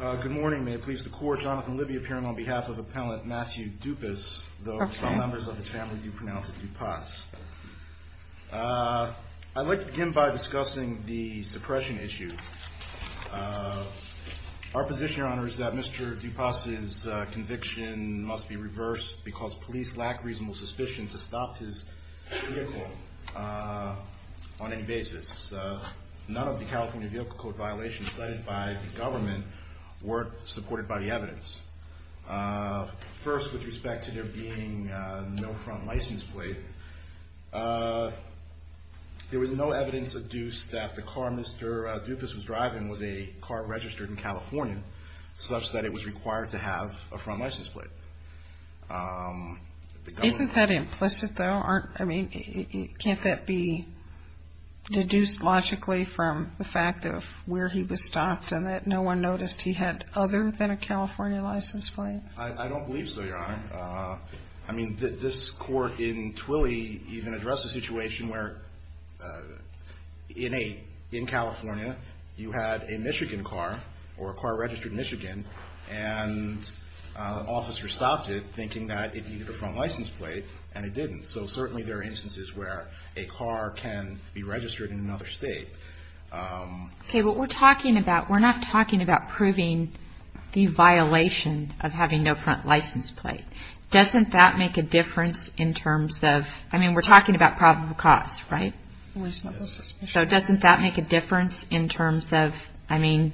Good morning. May it please the court, Jonathan Libby appearing on behalf of appellant Matthew Dupas, though some members of his family do pronounce it Dupas. I'd like to begin by discussing the suppression issue. Our position, Your Honor, is that Mr. Dupas's conviction must be reversed because police lack reasonable suspicion to stop his vehicle on any basis. None of the California vehicle code violations cited by the government weren't supported by the evidence. First, with respect to there being no front license plate, there was no evidence adduced that the car Mr. Dupas was driving was a car registered in California such that it was required to have a front license plate. Isn't that implicit though? I mean can't that be deduced logically from the fact of where he was stopped and that no one noticed he had other than a California license plate? DUPAS I don't believe so, Your Honor. I mean this court in Twilley even addressed a situation where in California you had a Michigan car or a car registered in Michigan and an officer stopped it thinking that it needed a front license plate and it didn't. So certainly there are instances where a car can be DUPAS Okay, what we're talking about, we're not talking about proving the violation of having no front license plate. Doesn't that make a difference in terms of, I mean we're talking about probable cause, right? So doesn't that make a difference in terms of, I mean,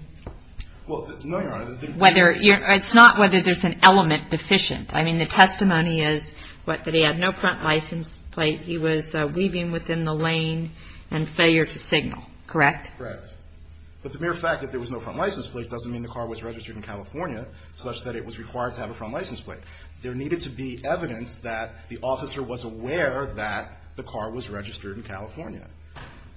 whether, it's not whether there's an element deficient. I mean the testimony is that he had no front license plate, he was weaving within the lane and failure to signal, correct? DUPAS Correct. But the mere fact that there was no front license plate doesn't mean the car was registered in California such that it was required to have a front license plate. There needed to be evidence that the officer was aware that the car was registered in California.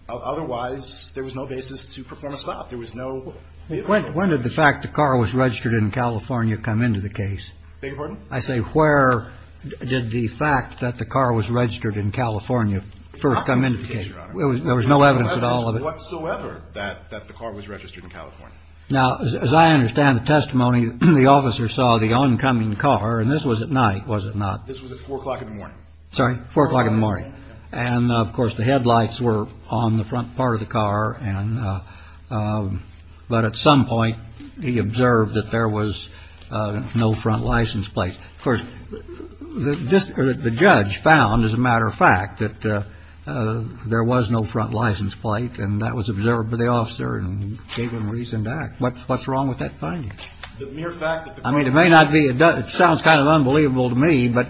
Otherwise there was no basis to perform a stop. There was no... JUSTICE SCALIA When did the fact that the car was registered in California come into the case? DUPAS Beg your pardon? JUSTICE SCALIA I say where did the fact that the car was registered in California first come into the case? DUPAS Not in the case, Your Honor. JUSTICE SCALIA There was no evidence at all of it? DUPAS There was no evidence whatsoever that the car was registered in California. JUSTICE SCALIA Now, as I understand the testimony, the officer saw the oncoming car, and this was at night, was it not? DUPAS This was at 4 o'clock in the morning. JUSTICE SCALIA Sorry, 4 o'clock in the morning. And, of course, the headlights were on the front part of the car and, but at some point he observed that there was no front license plate. Of course, the judge found, as a matter of fact, that there was no front license plate, and that was observed by the officer and gave him reason to act. What's wrong with that finding? DUPAS The mere fact that the car... JUSTICE SCALIA I mean, it may not be, it sounds kind of unbelievable to me, but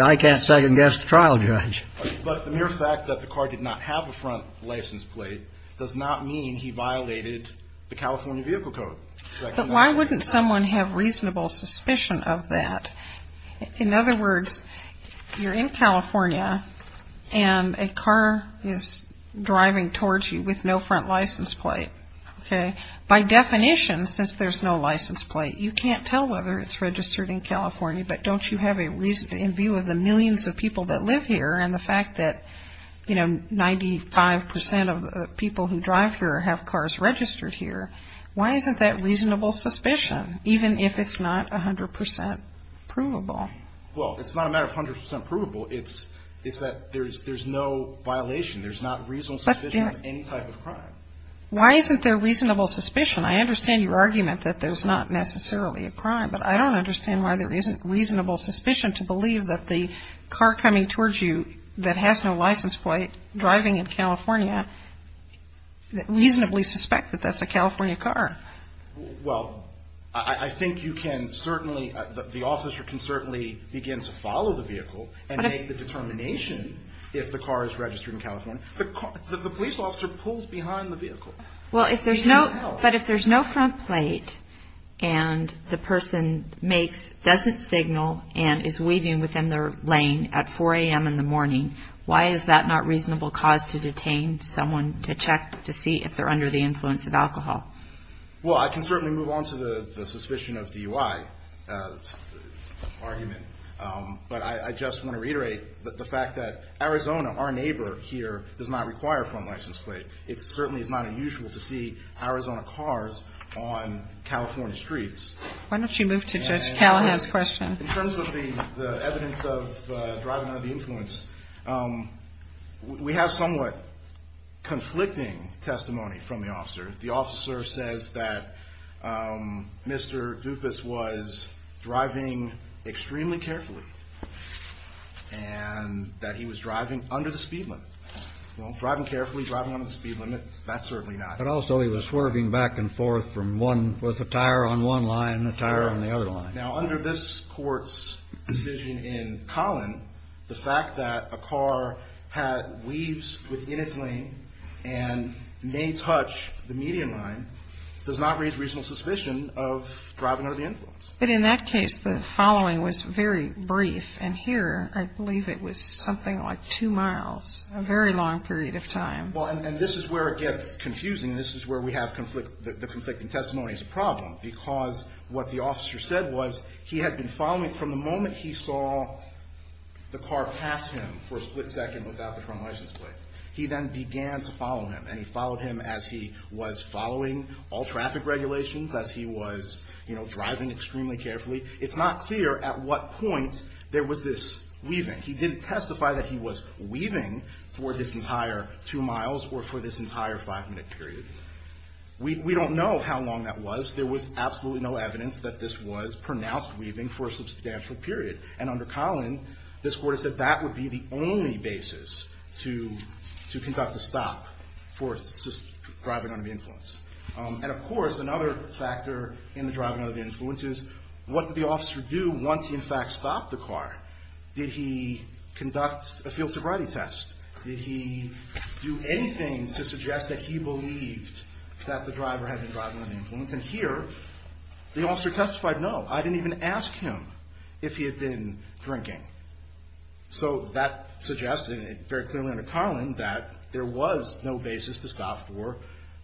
I can't second-guess the trial judge. DUPAS But the mere fact that the car did not have a front license plate does not mean he violated the California Vehicle Code. JUSTICE O'CONNOR But why wouldn't someone have reasonable suspicion of that? In other words, you're in California and a car is driving towards you with no front license plate, okay? By definition, since there's no license plate, you can't tell whether it's registered in California, but don't you have a reason, in view of the millions of people that live here and the fact that, you know, 95 percent of the people who drive here have cars registered here, why isn't that reasonable? DUPAS Well, it's not a matter of 100 percent provable. It's that there's no violation. There's not reasonable suspicion of any type of crime. JUSTICE O'CONNOR Why isn't there reasonable suspicion? I understand your argument that there's not necessarily a crime, but I don't understand why there isn't reasonable suspicion to believe that the car coming towards you that has no license plate, driving in California, reasonably suspect that that's a California car. DUPAS Well, I think you can certainly, the officer can certainly begin to follow the vehicle and make the determination if the car is registered in California. The police officer pulls behind the vehicle. JUSTICE O'CONNOR Well, if there's no front plate and the person makes, doesn't signal and is weaving within their lane at 4 a.m. in the morning, why is that not reasonable cause to detain someone to check to see if they're under the influence of alcohol? DUPAS Well, I can certainly move on to the suspicion of DUI argument, but I just want to reiterate the fact that Arizona, our neighbor here, does not require a front license plate. It certainly is not unusual to see Arizona cars on California streets. JUSTICE O'CONNOR Why don't you move to Judge Callahan's question? DUPAS In terms of the evidence of driving under the influence, we have somewhat conflicting testimony from the officer. The officer says that Mr. Dupas was driving extremely carefully and that he was driving under the speed limit. Well, driving carefully, driving under the speed limit, that's certainly not. JUSTICE KENNEDY But also he was swerving back and forth from one, with a tire on one line and a tire on the other line. DUPAS Now, under this court's decision in Collin, the fact that a car had used within its lane and may touch the median line does not raise reasonable suspicion of driving under the influence. JUSTICE KENNEDY But in that case, the following was very brief. And here, I believe it was something like two miles, a very long period of time. DUPAS Well, and this is where it gets confusing. This is where we have the conflicting testimony as a problem, because what the officer said was he had been following from the moment he saw the car pass him for a split second without the front license plate. He then began to follow him. And he followed him as he was following all traffic regulations, as he was driving extremely carefully. It's not clear at what point there was this weaving. He didn't testify that he was weaving for this entire two miles or for this entire five-minute period. We don't know how long that was. There was absolutely no evidence that this was pronounced weaving for a substantial period. And under Collin, this Court has said that would be the only basis to conduct a stop for driving under the influence. And of course, another factor in the driving under the influence is what did the officer do once he in fact stopped the car? Did he conduct a field sobriety test? Did he do anything to suggest that he believed that the driver had been driving under the influence? And here, the officer testified, no. I didn't even ask him if he had been drinking. So that suggested very clearly under Collin that there was no basis to stop for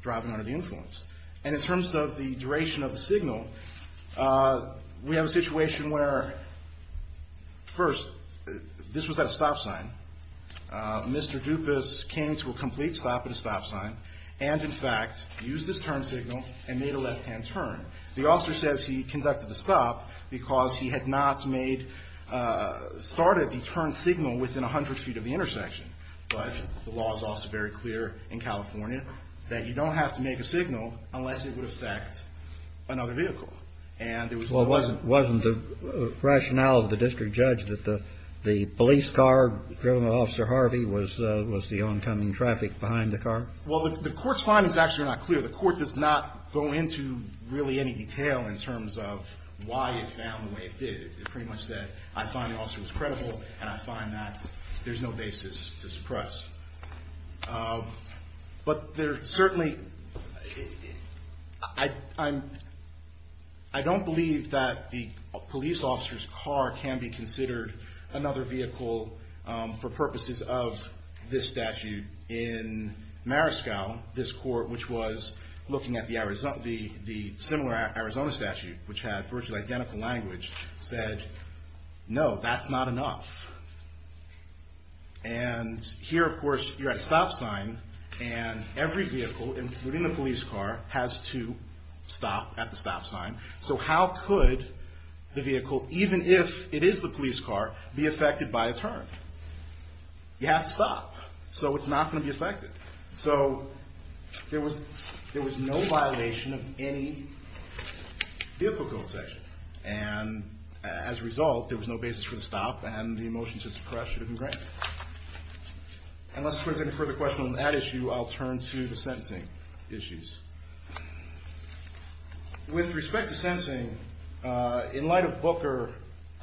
driving under the influence. And in terms of the duration of the signal, we have a situation where, first, this was at a stop sign. Mr. Dupas came to a complete stop at a stop sign and in fact used his turn signal and made a left-hand turn. The officer says he did that because he had not made, started the turn signal within 100 feet of the intersection. But the law is also very clear in California that you don't have to make a signal unless it would affect another vehicle. And there was no way. Well, wasn't the rationale of the district judge that the police car driven by Officer Harvey was the oncoming traffic behind the car? Well, the Court's finding is actually not clear. The Court does not go into really any detail in terms of why it found the way it did. It pretty much said, I find the officer was credible and I find that there's no basis to suppress. But there certainly, I don't believe that the police officer's car can be considered another vehicle for purposes of this statute. In Marisco, this Court, which was looking at the similar Arizona statute, which had virtually identical language, said, no, that's not enough. And here, of course, you're at a stop sign and every vehicle, including the police car, has to stop at the stop sign. So how could the vehicle, even if it is the police car, be affected by a turn? You have to stop. So it's not going to be affected. So there was no violation of any vehicle code section. And as a result, there was no basis for the stop and the motion to suppress should have been granted. Unless there's any further questions on that issue, I'll turn to the sentencing issues. With respect to sentencing, in light of Booker,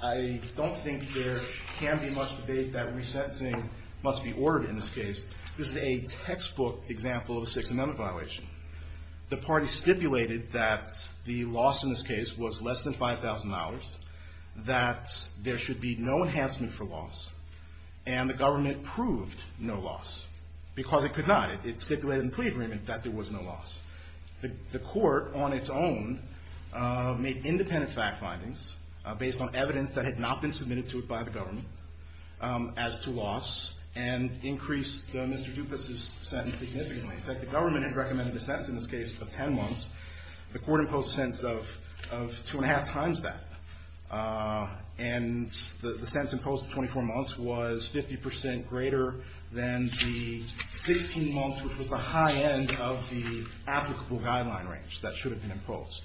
I don't think there can be too much debate that resentencing must be ordered in this case. This is a textbook example of a Sixth Amendment violation. The parties stipulated that the loss in this case was less than $5,000, that there should be no enhancement for loss, and the government proved no loss because it could not. It stipulated in the plea agreement that there was no loss. The Court, on its own, made independent fact findings based on evidence that had not been submitted to it by the government as to loss and increased Mr. Dupas' sentence significantly. In fact, the government had recommended a sentence in this case of 10 months. The Court imposed a sentence of two and a half times that. And the sentence imposed at 24 months was 50 percent greater than the 16 months, which was the high end of the applicable guideline range that should have been imposed.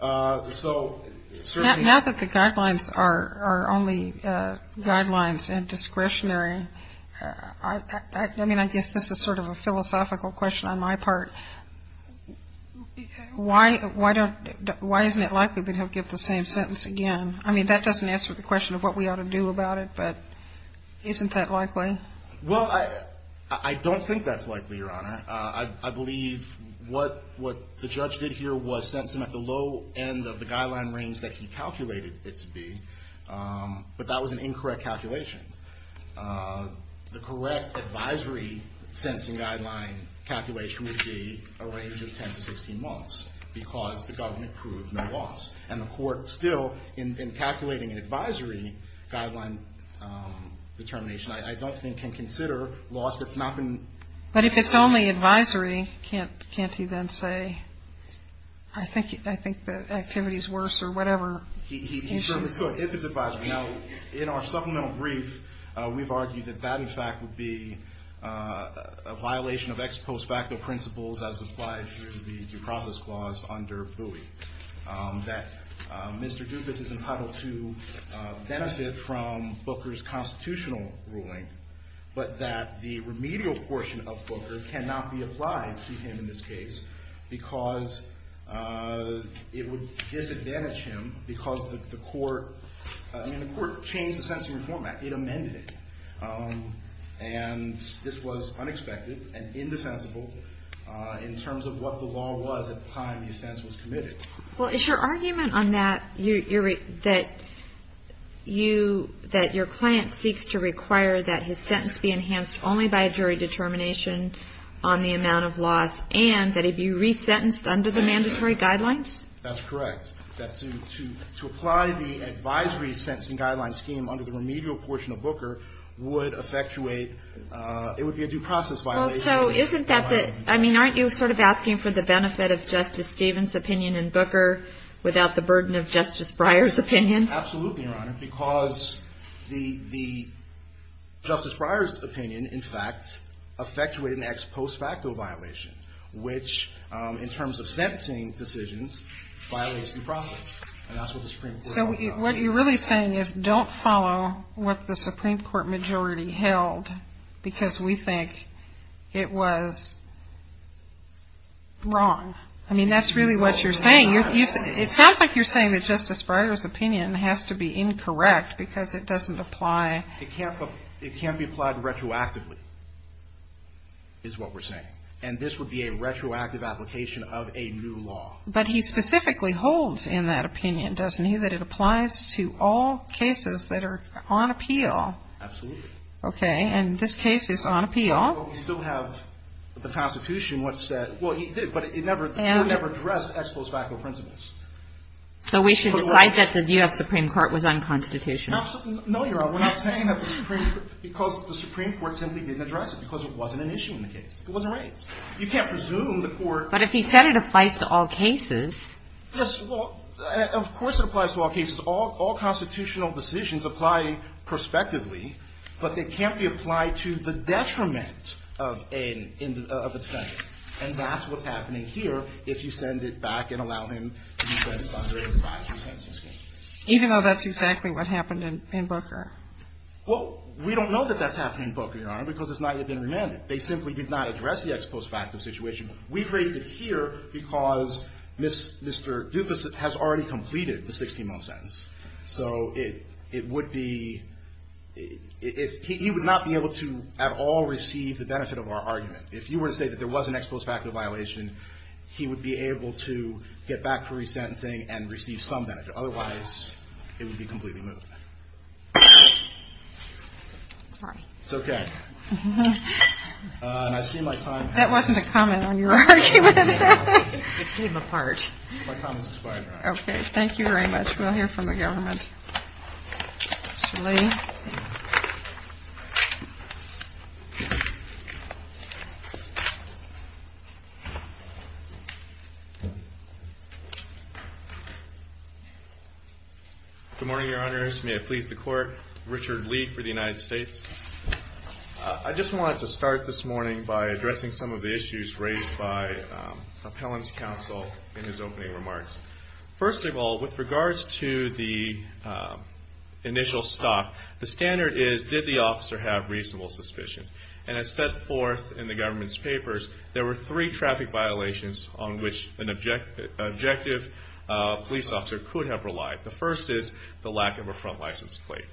Now that the guidelines are only guidelines and discretionary, I mean, I guess this is sort of a philosophical question on my part. Why isn't it likely that he'll give the same sentence again? I mean, that doesn't answer the question of what we ought to do about it, but isn't that likely? Well, I don't think that's likely, Your Honor. I believe what the judge did here was sentence him at the low end of the guideline range that he calculated it to be, but that was an incorrect calculation. The correct advisory sentencing guideline calculation would be a range of 10 to 16 months because the government proved no loss. And the Court still, in calculating an advisory guideline determination, I don't think can consider loss that's not been imposed. But if it's only advisory, can't he then say, I think the activity is worse or whatever? He certainly could, if it's advisory. Now, in our supplemental brief, we've argued that that, in fact, would be a violation of ex post facto principles as applied to the due process clause under Bowie, that Mr. Dufus is entitled to benefit from Booker's constitutional ruling, but that the remedial portion of Booker cannot be applied to him in this case because it would disadvantage him because the Court, I mean, the Court changed the Sentencing Reform Act. It amended it. And this was unexpected and indefensible in terms of what the law was at the time the offense was committed. Well, is your argument on that, that you, that your client seeks to require that his sentence be enhanced only by a jury determination on the amount of loss and that he be resentenced under the mandatory guidelines? That's correct. That to apply the advisory sentencing guideline scheme under the remedial portion of Booker would effectuate, it would be a due process violation. Well, so isn't that the, I mean, aren't you sort of asking for the benefit of Justice Stevens' opinion in Booker without the burden of Justice Breyer's opinion? Absolutely, Your Honor, because the Justice Breyer's opinion, in fact, effectuated an ex post facto violation, which in terms of sentencing decisions, violates due process. And that's what the Supreme Court held. So what you're really saying is don't follow what the Supreme Court majority held because we think it was wrong. I mean, that's really what you're saying. It sounds like you're saying that Justice Breyer's opinion has to be incorrect because it doesn't apply. It can't be applied retroactively is what we're saying. And this would be a retroactive application of a new law. But he specifically holds in that opinion, doesn't he, that it applies to all cases that are on appeal. Absolutely. Okay. And this case is on appeal. Well, we still have the Constitution, what's that? Well, he did, but it never, the Court never addressed ex post facto principles. So we should decide that the U.S. Supreme Court was unconstitutional. No, Your Honor, we're not saying that the Supreme, because the Supreme Court simply didn't address it because it wasn't an issue in the case. It wasn't raised. You can't presume the Court. But if he said it applies to all cases. Yes, well, of course it applies to all cases. All constitutional decisions apply prospectively, but they can't be applied to the detriment of a defendant. And that's what's happening here if you send it back and allow him to be sentenced under 85, he was sentenced to 16 months. Even though that's exactly what happened in Booker? Well, we don't know that that's happening in Booker, Your Honor, because it's not yet been remanded. They simply did not address the ex post facto situation. We've raised it here because Mr. Dukas has already completed the 16-month sentence. So it would be if he would not be able to at all receive the benefit of our argument. If you were to say that there was an ex post facto violation, he would be able to get back to resentencing and receive some benefit. Otherwise, it would be completely moved. Sorry. It's okay. And I see my time. That wasn't a comment on your argument. It came apart. My time is expired. Okay. Thank you very much. We'll hear from the government. Mr. Lee. Good morning, Your Honors. May it please the Court. Richard Lee for the United States. I just wanted to start this morning by addressing some of the issues raised by appellant's counsel in his opening remarks. First of all, with regards to the initial stock, the standard is, did the officer have reasonable suspicion? And as set forth in the government's papers, there were three traffic violations on which an objective police officer could have relied. The first is the lack of a front license plate.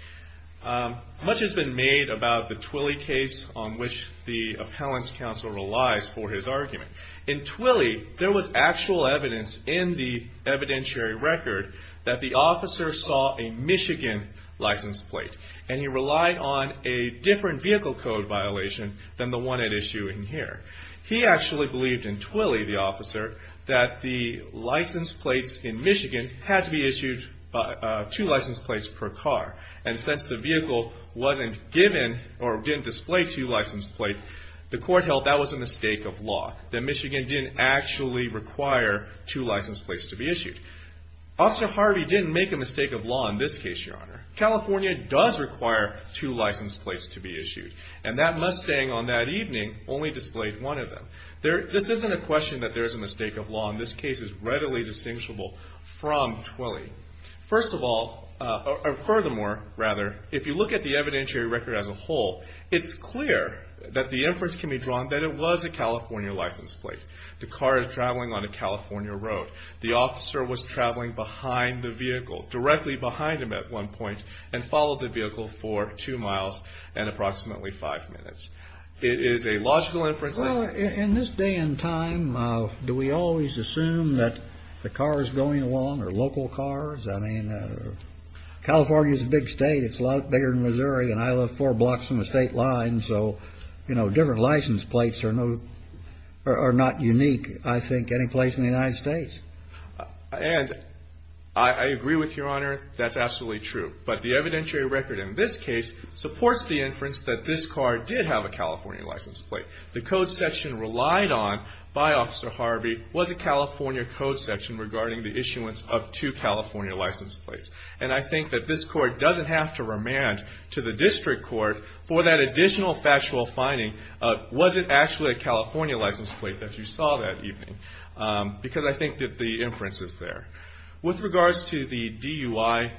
Much has been made about the Twilley case on which the appellant's counsel relies for his argument. In Twilley, there was actual evidence in the evidentiary record that the officer saw a Michigan license plate, and he relied on a different vehicle code violation than the one at issue in here. He actually believed in Twilley, the officer, that the license plates in Michigan had to be issued two license plates per car. And since the vehicle wasn't given or didn't display two license plates, the court held that was a mistake of law, that Michigan didn't actually require two license plates to be issued. Officer Harvey didn't make a mistake of law in this case, Your Honor. California does require two license plates to be issued. And that Mustang on that evening only displayed one of them. This isn't a question that there is a mistake of law. This case is readily distinguishable from Twilley. First of all, or furthermore, rather, if you look at the evidentiary record as a whole, it's clear that the inference can be drawn that it was a California license plate. The car is traveling on a California road. The officer was traveling behind the vehicle, directly behind him at one point, and followed the vehicle for two miles and approximately five minutes. It is a logical inference. Well, in this day and time, do we always assume that the cars going along are local cars? I mean, California is a big state. It's a lot bigger than Missouri, and I live four blocks from the state line. So, you know, different license plates are not unique, I think, any place in the United States. And I agree with you, Your Honor. That's absolutely true. But the evidentiary record in this case supports the inference that this car did have a California license plate. The code section relied on, by Officer Harvey, was a California code section regarding the issuance of two California license plates. And I think that this Court doesn't have to remand to the District Court for that additional factual finding of was it actually a California license plate that you saw that evening, because I think that the inference is there. With regards to the DUI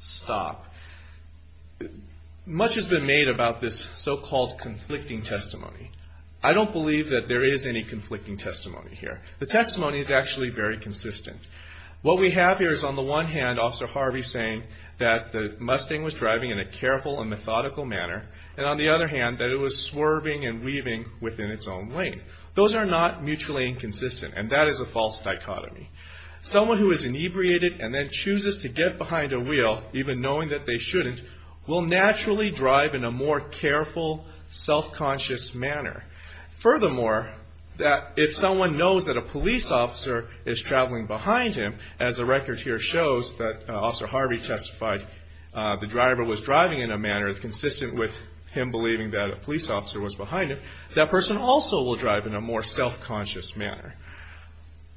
stop, much has been made about this so-called conflicting testimony. I don't believe that there is any conflicting testimony here. The testimony is actually very consistent. What we have here is, on the one hand, Officer Harvey saying that the Mustang was driving in a careful and methodical manner, and on the other hand, that it was swerving and weaving within its own lane. Those are not mutually inconsistent, and that is a false dichotomy. Someone who is inebriated and then chooses to get behind a wheel, even knowing that they shouldn't, will naturally drive in a more careful, self-conscious manner. Furthermore, if someone knows that a police officer is traveling behind him, as the record here shows that Officer Harvey testified the driver was driving in a manner consistent with him believing that a police officer was behind him, that person also will drive in a more self-conscious manner.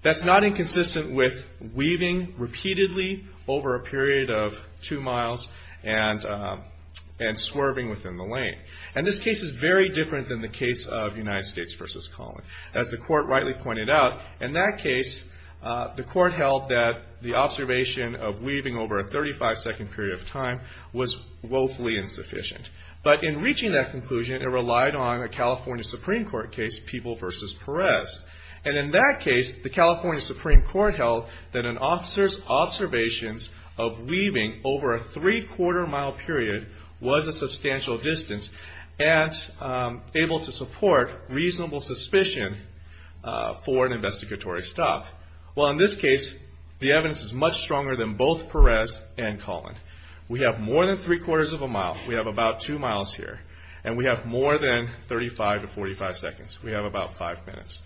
That's not inconsistent with weaving repeatedly over a period of two miles and swerving within the lane. And this case is very different than the case of United States v. Collin. As the court rightly pointed out, in that case, the court held that the observation of weaving over a 35-second period of time was woefully insufficient. But in reaching that conclusion, it relied on a California Supreme Court case, People v. Perez. And in that case, the California Supreme Court held that an officer's observations of weaving over a three-quarter mile period was a substantial distance and able to support reasonable suspicion for an investigatory stop. Well, in this case, the evidence is much stronger than both Perez and Collin. We have more than three-quarters of a mile. We have about two miles here. And we have more than 35 to 45 seconds. We have about five minutes.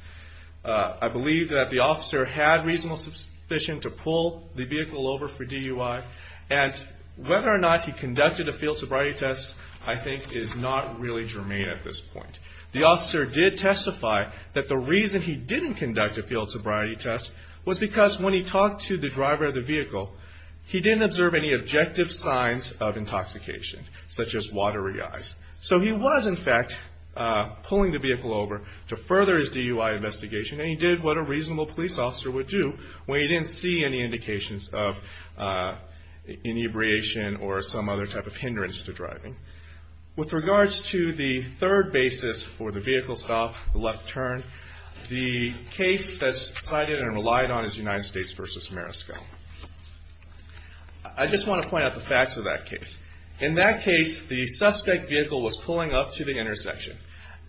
I believe that the officer had reasonable suspicion to pull the vehicle over for DUI. And whether or not he conducted a field sobriety test, I think, is not really germane at this point. The officer did testify that the reason he didn't conduct a field sobriety test was because when he talked to the driver of the vehicle, he didn't observe any objective signs of intoxication, such as watery eyes. So he was, in fact, pulling the vehicle over to further his DUI investigation, and he did what a reasonable police officer would do when he didn't see any indications of inebriation or some other type of hindrance to driving. With regards to the third basis for the vehicle stop, the left turn, the case that's cited and relied on is United States v. Marisco. I just want to point out the facts of that case. In that case, the suspect vehicle was pulling up to the intersection.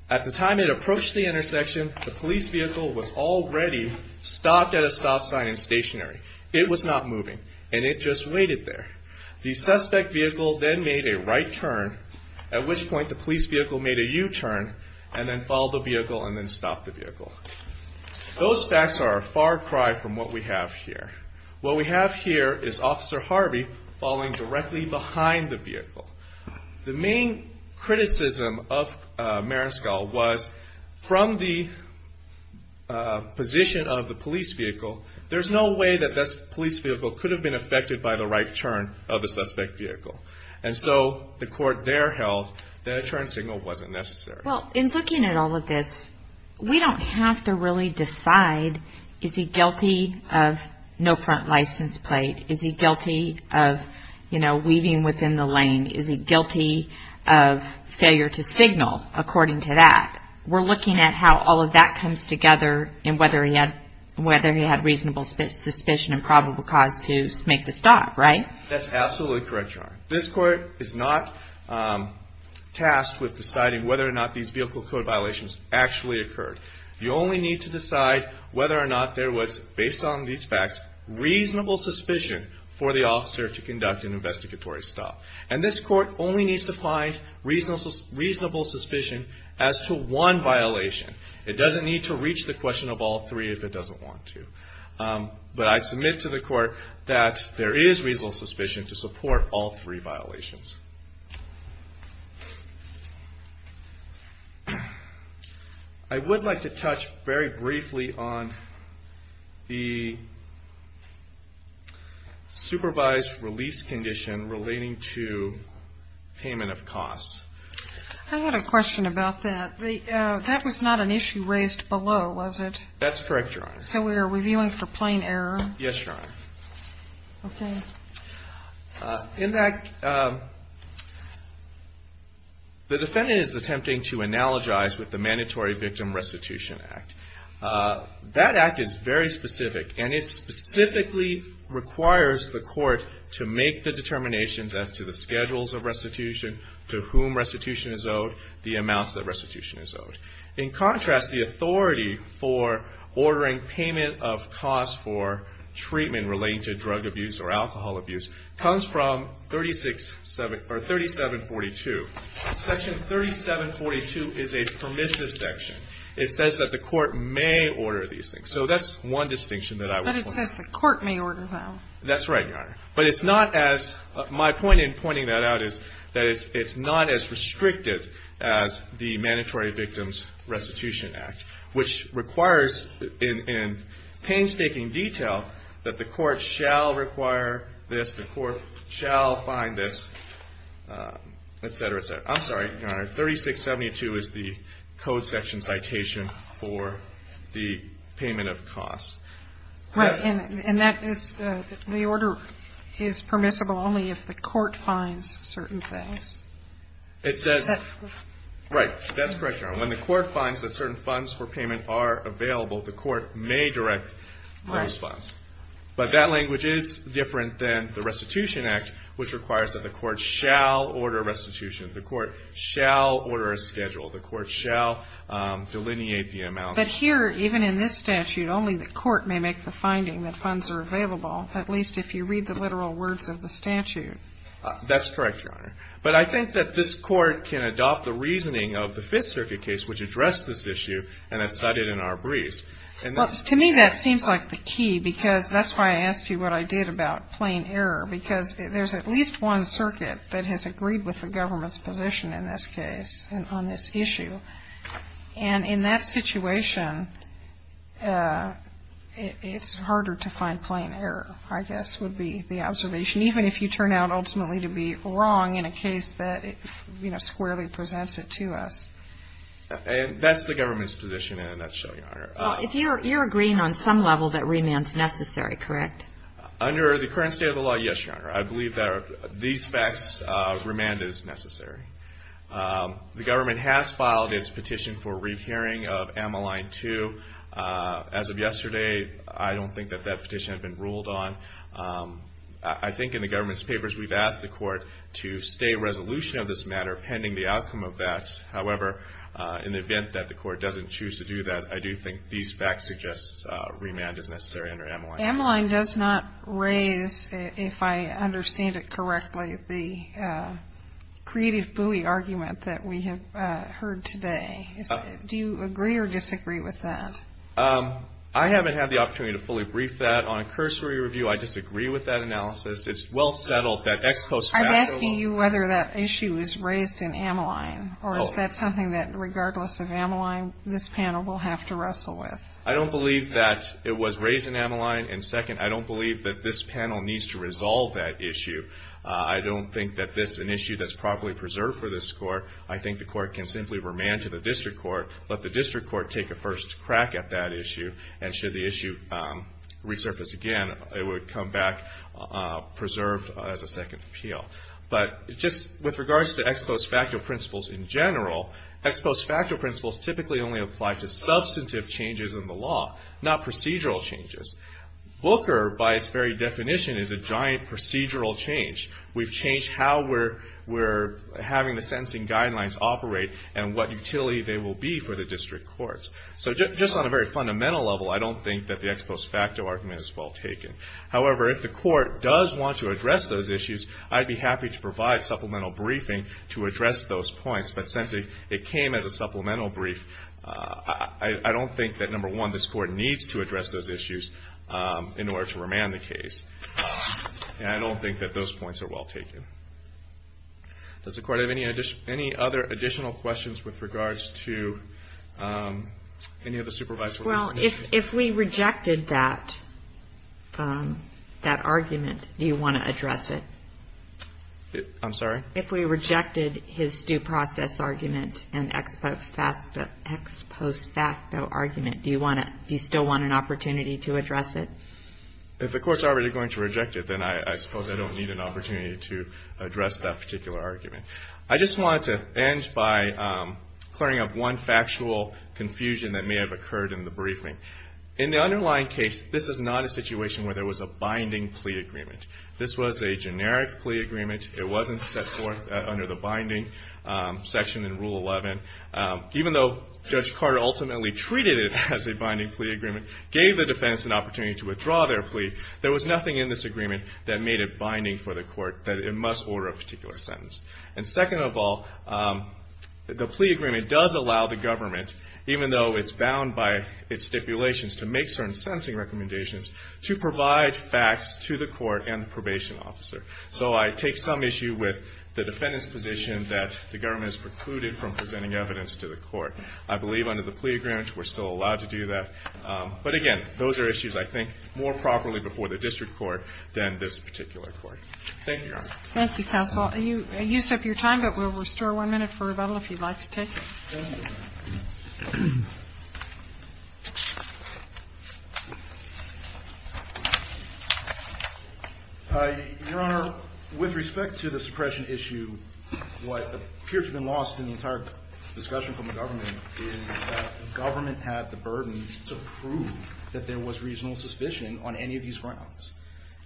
At the time it approached the intersection, the police vehicle was already stopped at a stop sign and stationary. It was not moving, and it just waited there. The suspect vehicle then made a right turn, at which point the police vehicle made a U-turn and then followed the vehicle and then stopped the vehicle. Those facts are a far cry from what we have here. What we have here is Officer Harvey falling directly behind the vehicle. The main criticism of Marisco was from the position of the police vehicle, there's no way that this police vehicle could have been affected by the right turn of the suspect vehicle. The court there held that a turn signal wasn't necessary. In looking at all of this, we don't have to really decide, is he guilty of no front license plate? Is he guilty of weaving within the lane? Is he guilty of failure to signal, according to that? We're looking at how all of that comes together and whether he had reasonable suspicion and probable cause to make the stop, right? That's absolutely correct, Your Honor. This court is not tasked with deciding whether or not these vehicle code violations actually occurred. You only need to decide whether or not there was, based on these facts, reasonable suspicion for the officer to conduct an investigatory stop. And this court only needs to find reasonable suspicion as to one violation. It doesn't need to reach the question of all three if it doesn't want to. But I submit to the court that there is reasonable suspicion to support all three violations. I would like to touch very briefly on the supervised release condition relating to payment of costs. I had a question about that. That was not an issue raised below, was it? That's correct, Your Honor. So we are reviewing for plain error? Yes, Your Honor. Okay. In fact, the defendant is attempting to analogize with the Mandatory Victim Restitution Act. That act is very specific, and it specifically requires the court to make the determinations as to the schedules of restitution, to whom restitution is owed, the amounts that restitution is owed. In contrast, the authority for ordering payment of costs for treatment relating to drug abuse or alcohol abuse comes from 3742. Section 3742 is a permissive section. It says that the court may order these things. So that's one distinction that I would point out. But it says the court may order them. That's right, Your Honor. But it's not as my point in pointing that out is that it's not as restricted as the Mandatory Victim Restitution Act, which requires in painstaking detail that the court shall require this, the court shall find this, et cetera, et cetera. I'm sorry, Your Honor. 3672 is the code section citation for the payment of costs. Right. And that is the order is permissible only if the court finds certain things. It says, right, that's correct, Your Honor. When the court finds that certain funds for payment are available, the court may direct those funds. But that language is different than the Restitution Act, which requires that the court shall order restitution. The court shall order a schedule. The court shall delineate the amount. But here, even in this statute, only the court may make the finding that funds are available, at least if you read the literal words of the statute. That's correct, Your Honor. But I think that this court can adopt the reasoning of the Fifth Circuit case, which addressed this issue, and has cited in our briefs. Well, to me, that seems like the key, because that's why I asked you what I did about plain error, because there's at least one circuit that has agreed with the government's position in this case on this issue. And in that situation, it's harder to find plain error, I guess, would be the observation, even if you turn out ultimately to be wrong in a case that, you know, squarely presents it to us. That's the government's position in a nutshell, Your Honor. Well, you're agreeing on some level that remand is necessary, correct? Under the current state of the law, yes, Your Honor. I believe that these facts, remand is necessary. The government has filed its petition for rehearing of Ameline 2. As of yesterday, I don't think that that petition had been ruled on. I think in the government's papers, we've asked the court to stay resolution of this matter pending the outcome of that. However, in the event that the court doesn't choose to do that, I do think these facts suggest remand is necessary under Ameline. Ameline does not raise, if I understand it correctly, the creative buoy argument that we have heard today. Do you agree or disagree with that? I haven't had the opportunity to fully brief that. On a cursory review, I disagree with that analysis. It's well settled that ex-post facts are wrong. I'm asking you whether that issue is raised in Ameline, or is that something that, regardless of Ameline, this panel will have to wrestle with? I don't believe that it was raised in Ameline. And second, I don't believe that this panel needs to resolve that issue. I don't think that this is an issue that's properly preserved for this court. I think the court can simply remand to the district court, let the district court take a first crack at that issue, and should the issue resurface again, it would come back preserved as a second appeal. But just with regards to ex-post facto principles in general, ex-post facto principles typically only apply to substantive changes in the law, not procedural changes. Booker, by its very definition, is a giant procedural change. We've changed how we're having the sentencing guidelines operate and what utility they will be for the district courts. So just on a very fundamental level, I don't think that the ex-post facto argument is well taken. However, if the court does want to address those issues, I'd be happy to provide supplemental briefing to address those points. But since it came as a supplemental brief, I don't think that, number one, this court needs to address those issues in order to remand the case. And I don't think that those points are well taken. Does the court have any other additional questions with regards to any of the supervisory issues? Well, if we rejected that argument, do you want to address it? I'm sorry? If we rejected his due process argument and ex-post facto argument, do you still want an opportunity to address it? If the court's already going to reject it, then I suppose I don't need an opportunity to address that particular argument. I just wanted to end by clearing up one factual confusion that may have occurred in the briefing. In the underlying case, this is not a situation where there was a binding plea agreement. This was a generic plea agreement. It wasn't set forth under the binding section in Rule 11. Even though Judge Carter ultimately treated it as a binding plea agreement, gave the defense an opportunity to withdraw their plea, there was nothing in this agreement that made it binding for the court, that it must order a particular sentence. And second of all, the plea agreement does allow the government, even though it's bound by its stipulations to make certain sentencing recommendations, to provide facts to the court and the probation officer. So I take some issue with the defendant's position that the government is precluded from presenting evidence to the court. I believe under the plea agreement we're still allowed to do that. But again, those are issues, I think, more properly before the district court than this particular court. Thank you, Your Honor. Thank you, counsel. You set your time, but we'll restore one minute for rebuttal if you'd like to take it. Thank you. Your Honor, with respect to the suppression issue, what appears to have been lost in the entire discussion from the government is that the government had the burden to prove that there was reasonable suspicion on any of these grounds.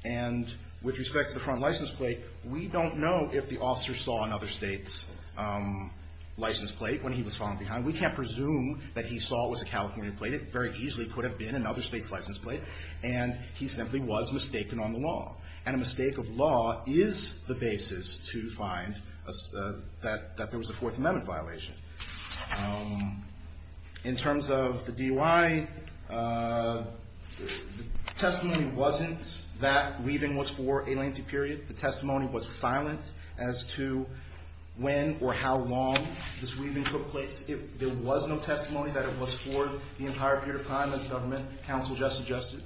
And with respect to the front license plate, we don't know if the officer saw another state's license plate when he was falling behind. We can't presume that he saw it was a California plate. It very easily could have been another state's license plate. And he simply was mistaken on the law. And a mistake of law is the basis to find that there was a Fourth Amendment violation. In terms of the DUI, the testimony wasn't that weaving was for a lengthy period. The testimony was silent as to when or how long this weaving took place. There was no testimony that it was for the entire period of time, as the government counsel just suggested.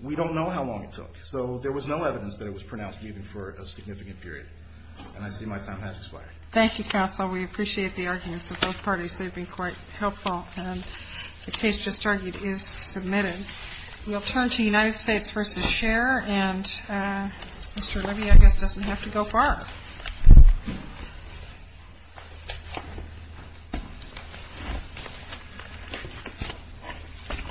We don't know how long it took. So there was no evidence that it was pronounced weaving for a significant period. And I see my time has expired. Thank you, counsel. We appreciate the arguments of both parties. They've been quite helpful. The case just argued is submitted. We'll turn to United States v. Scher. And Mr. Levy, I guess, doesn't have to go far.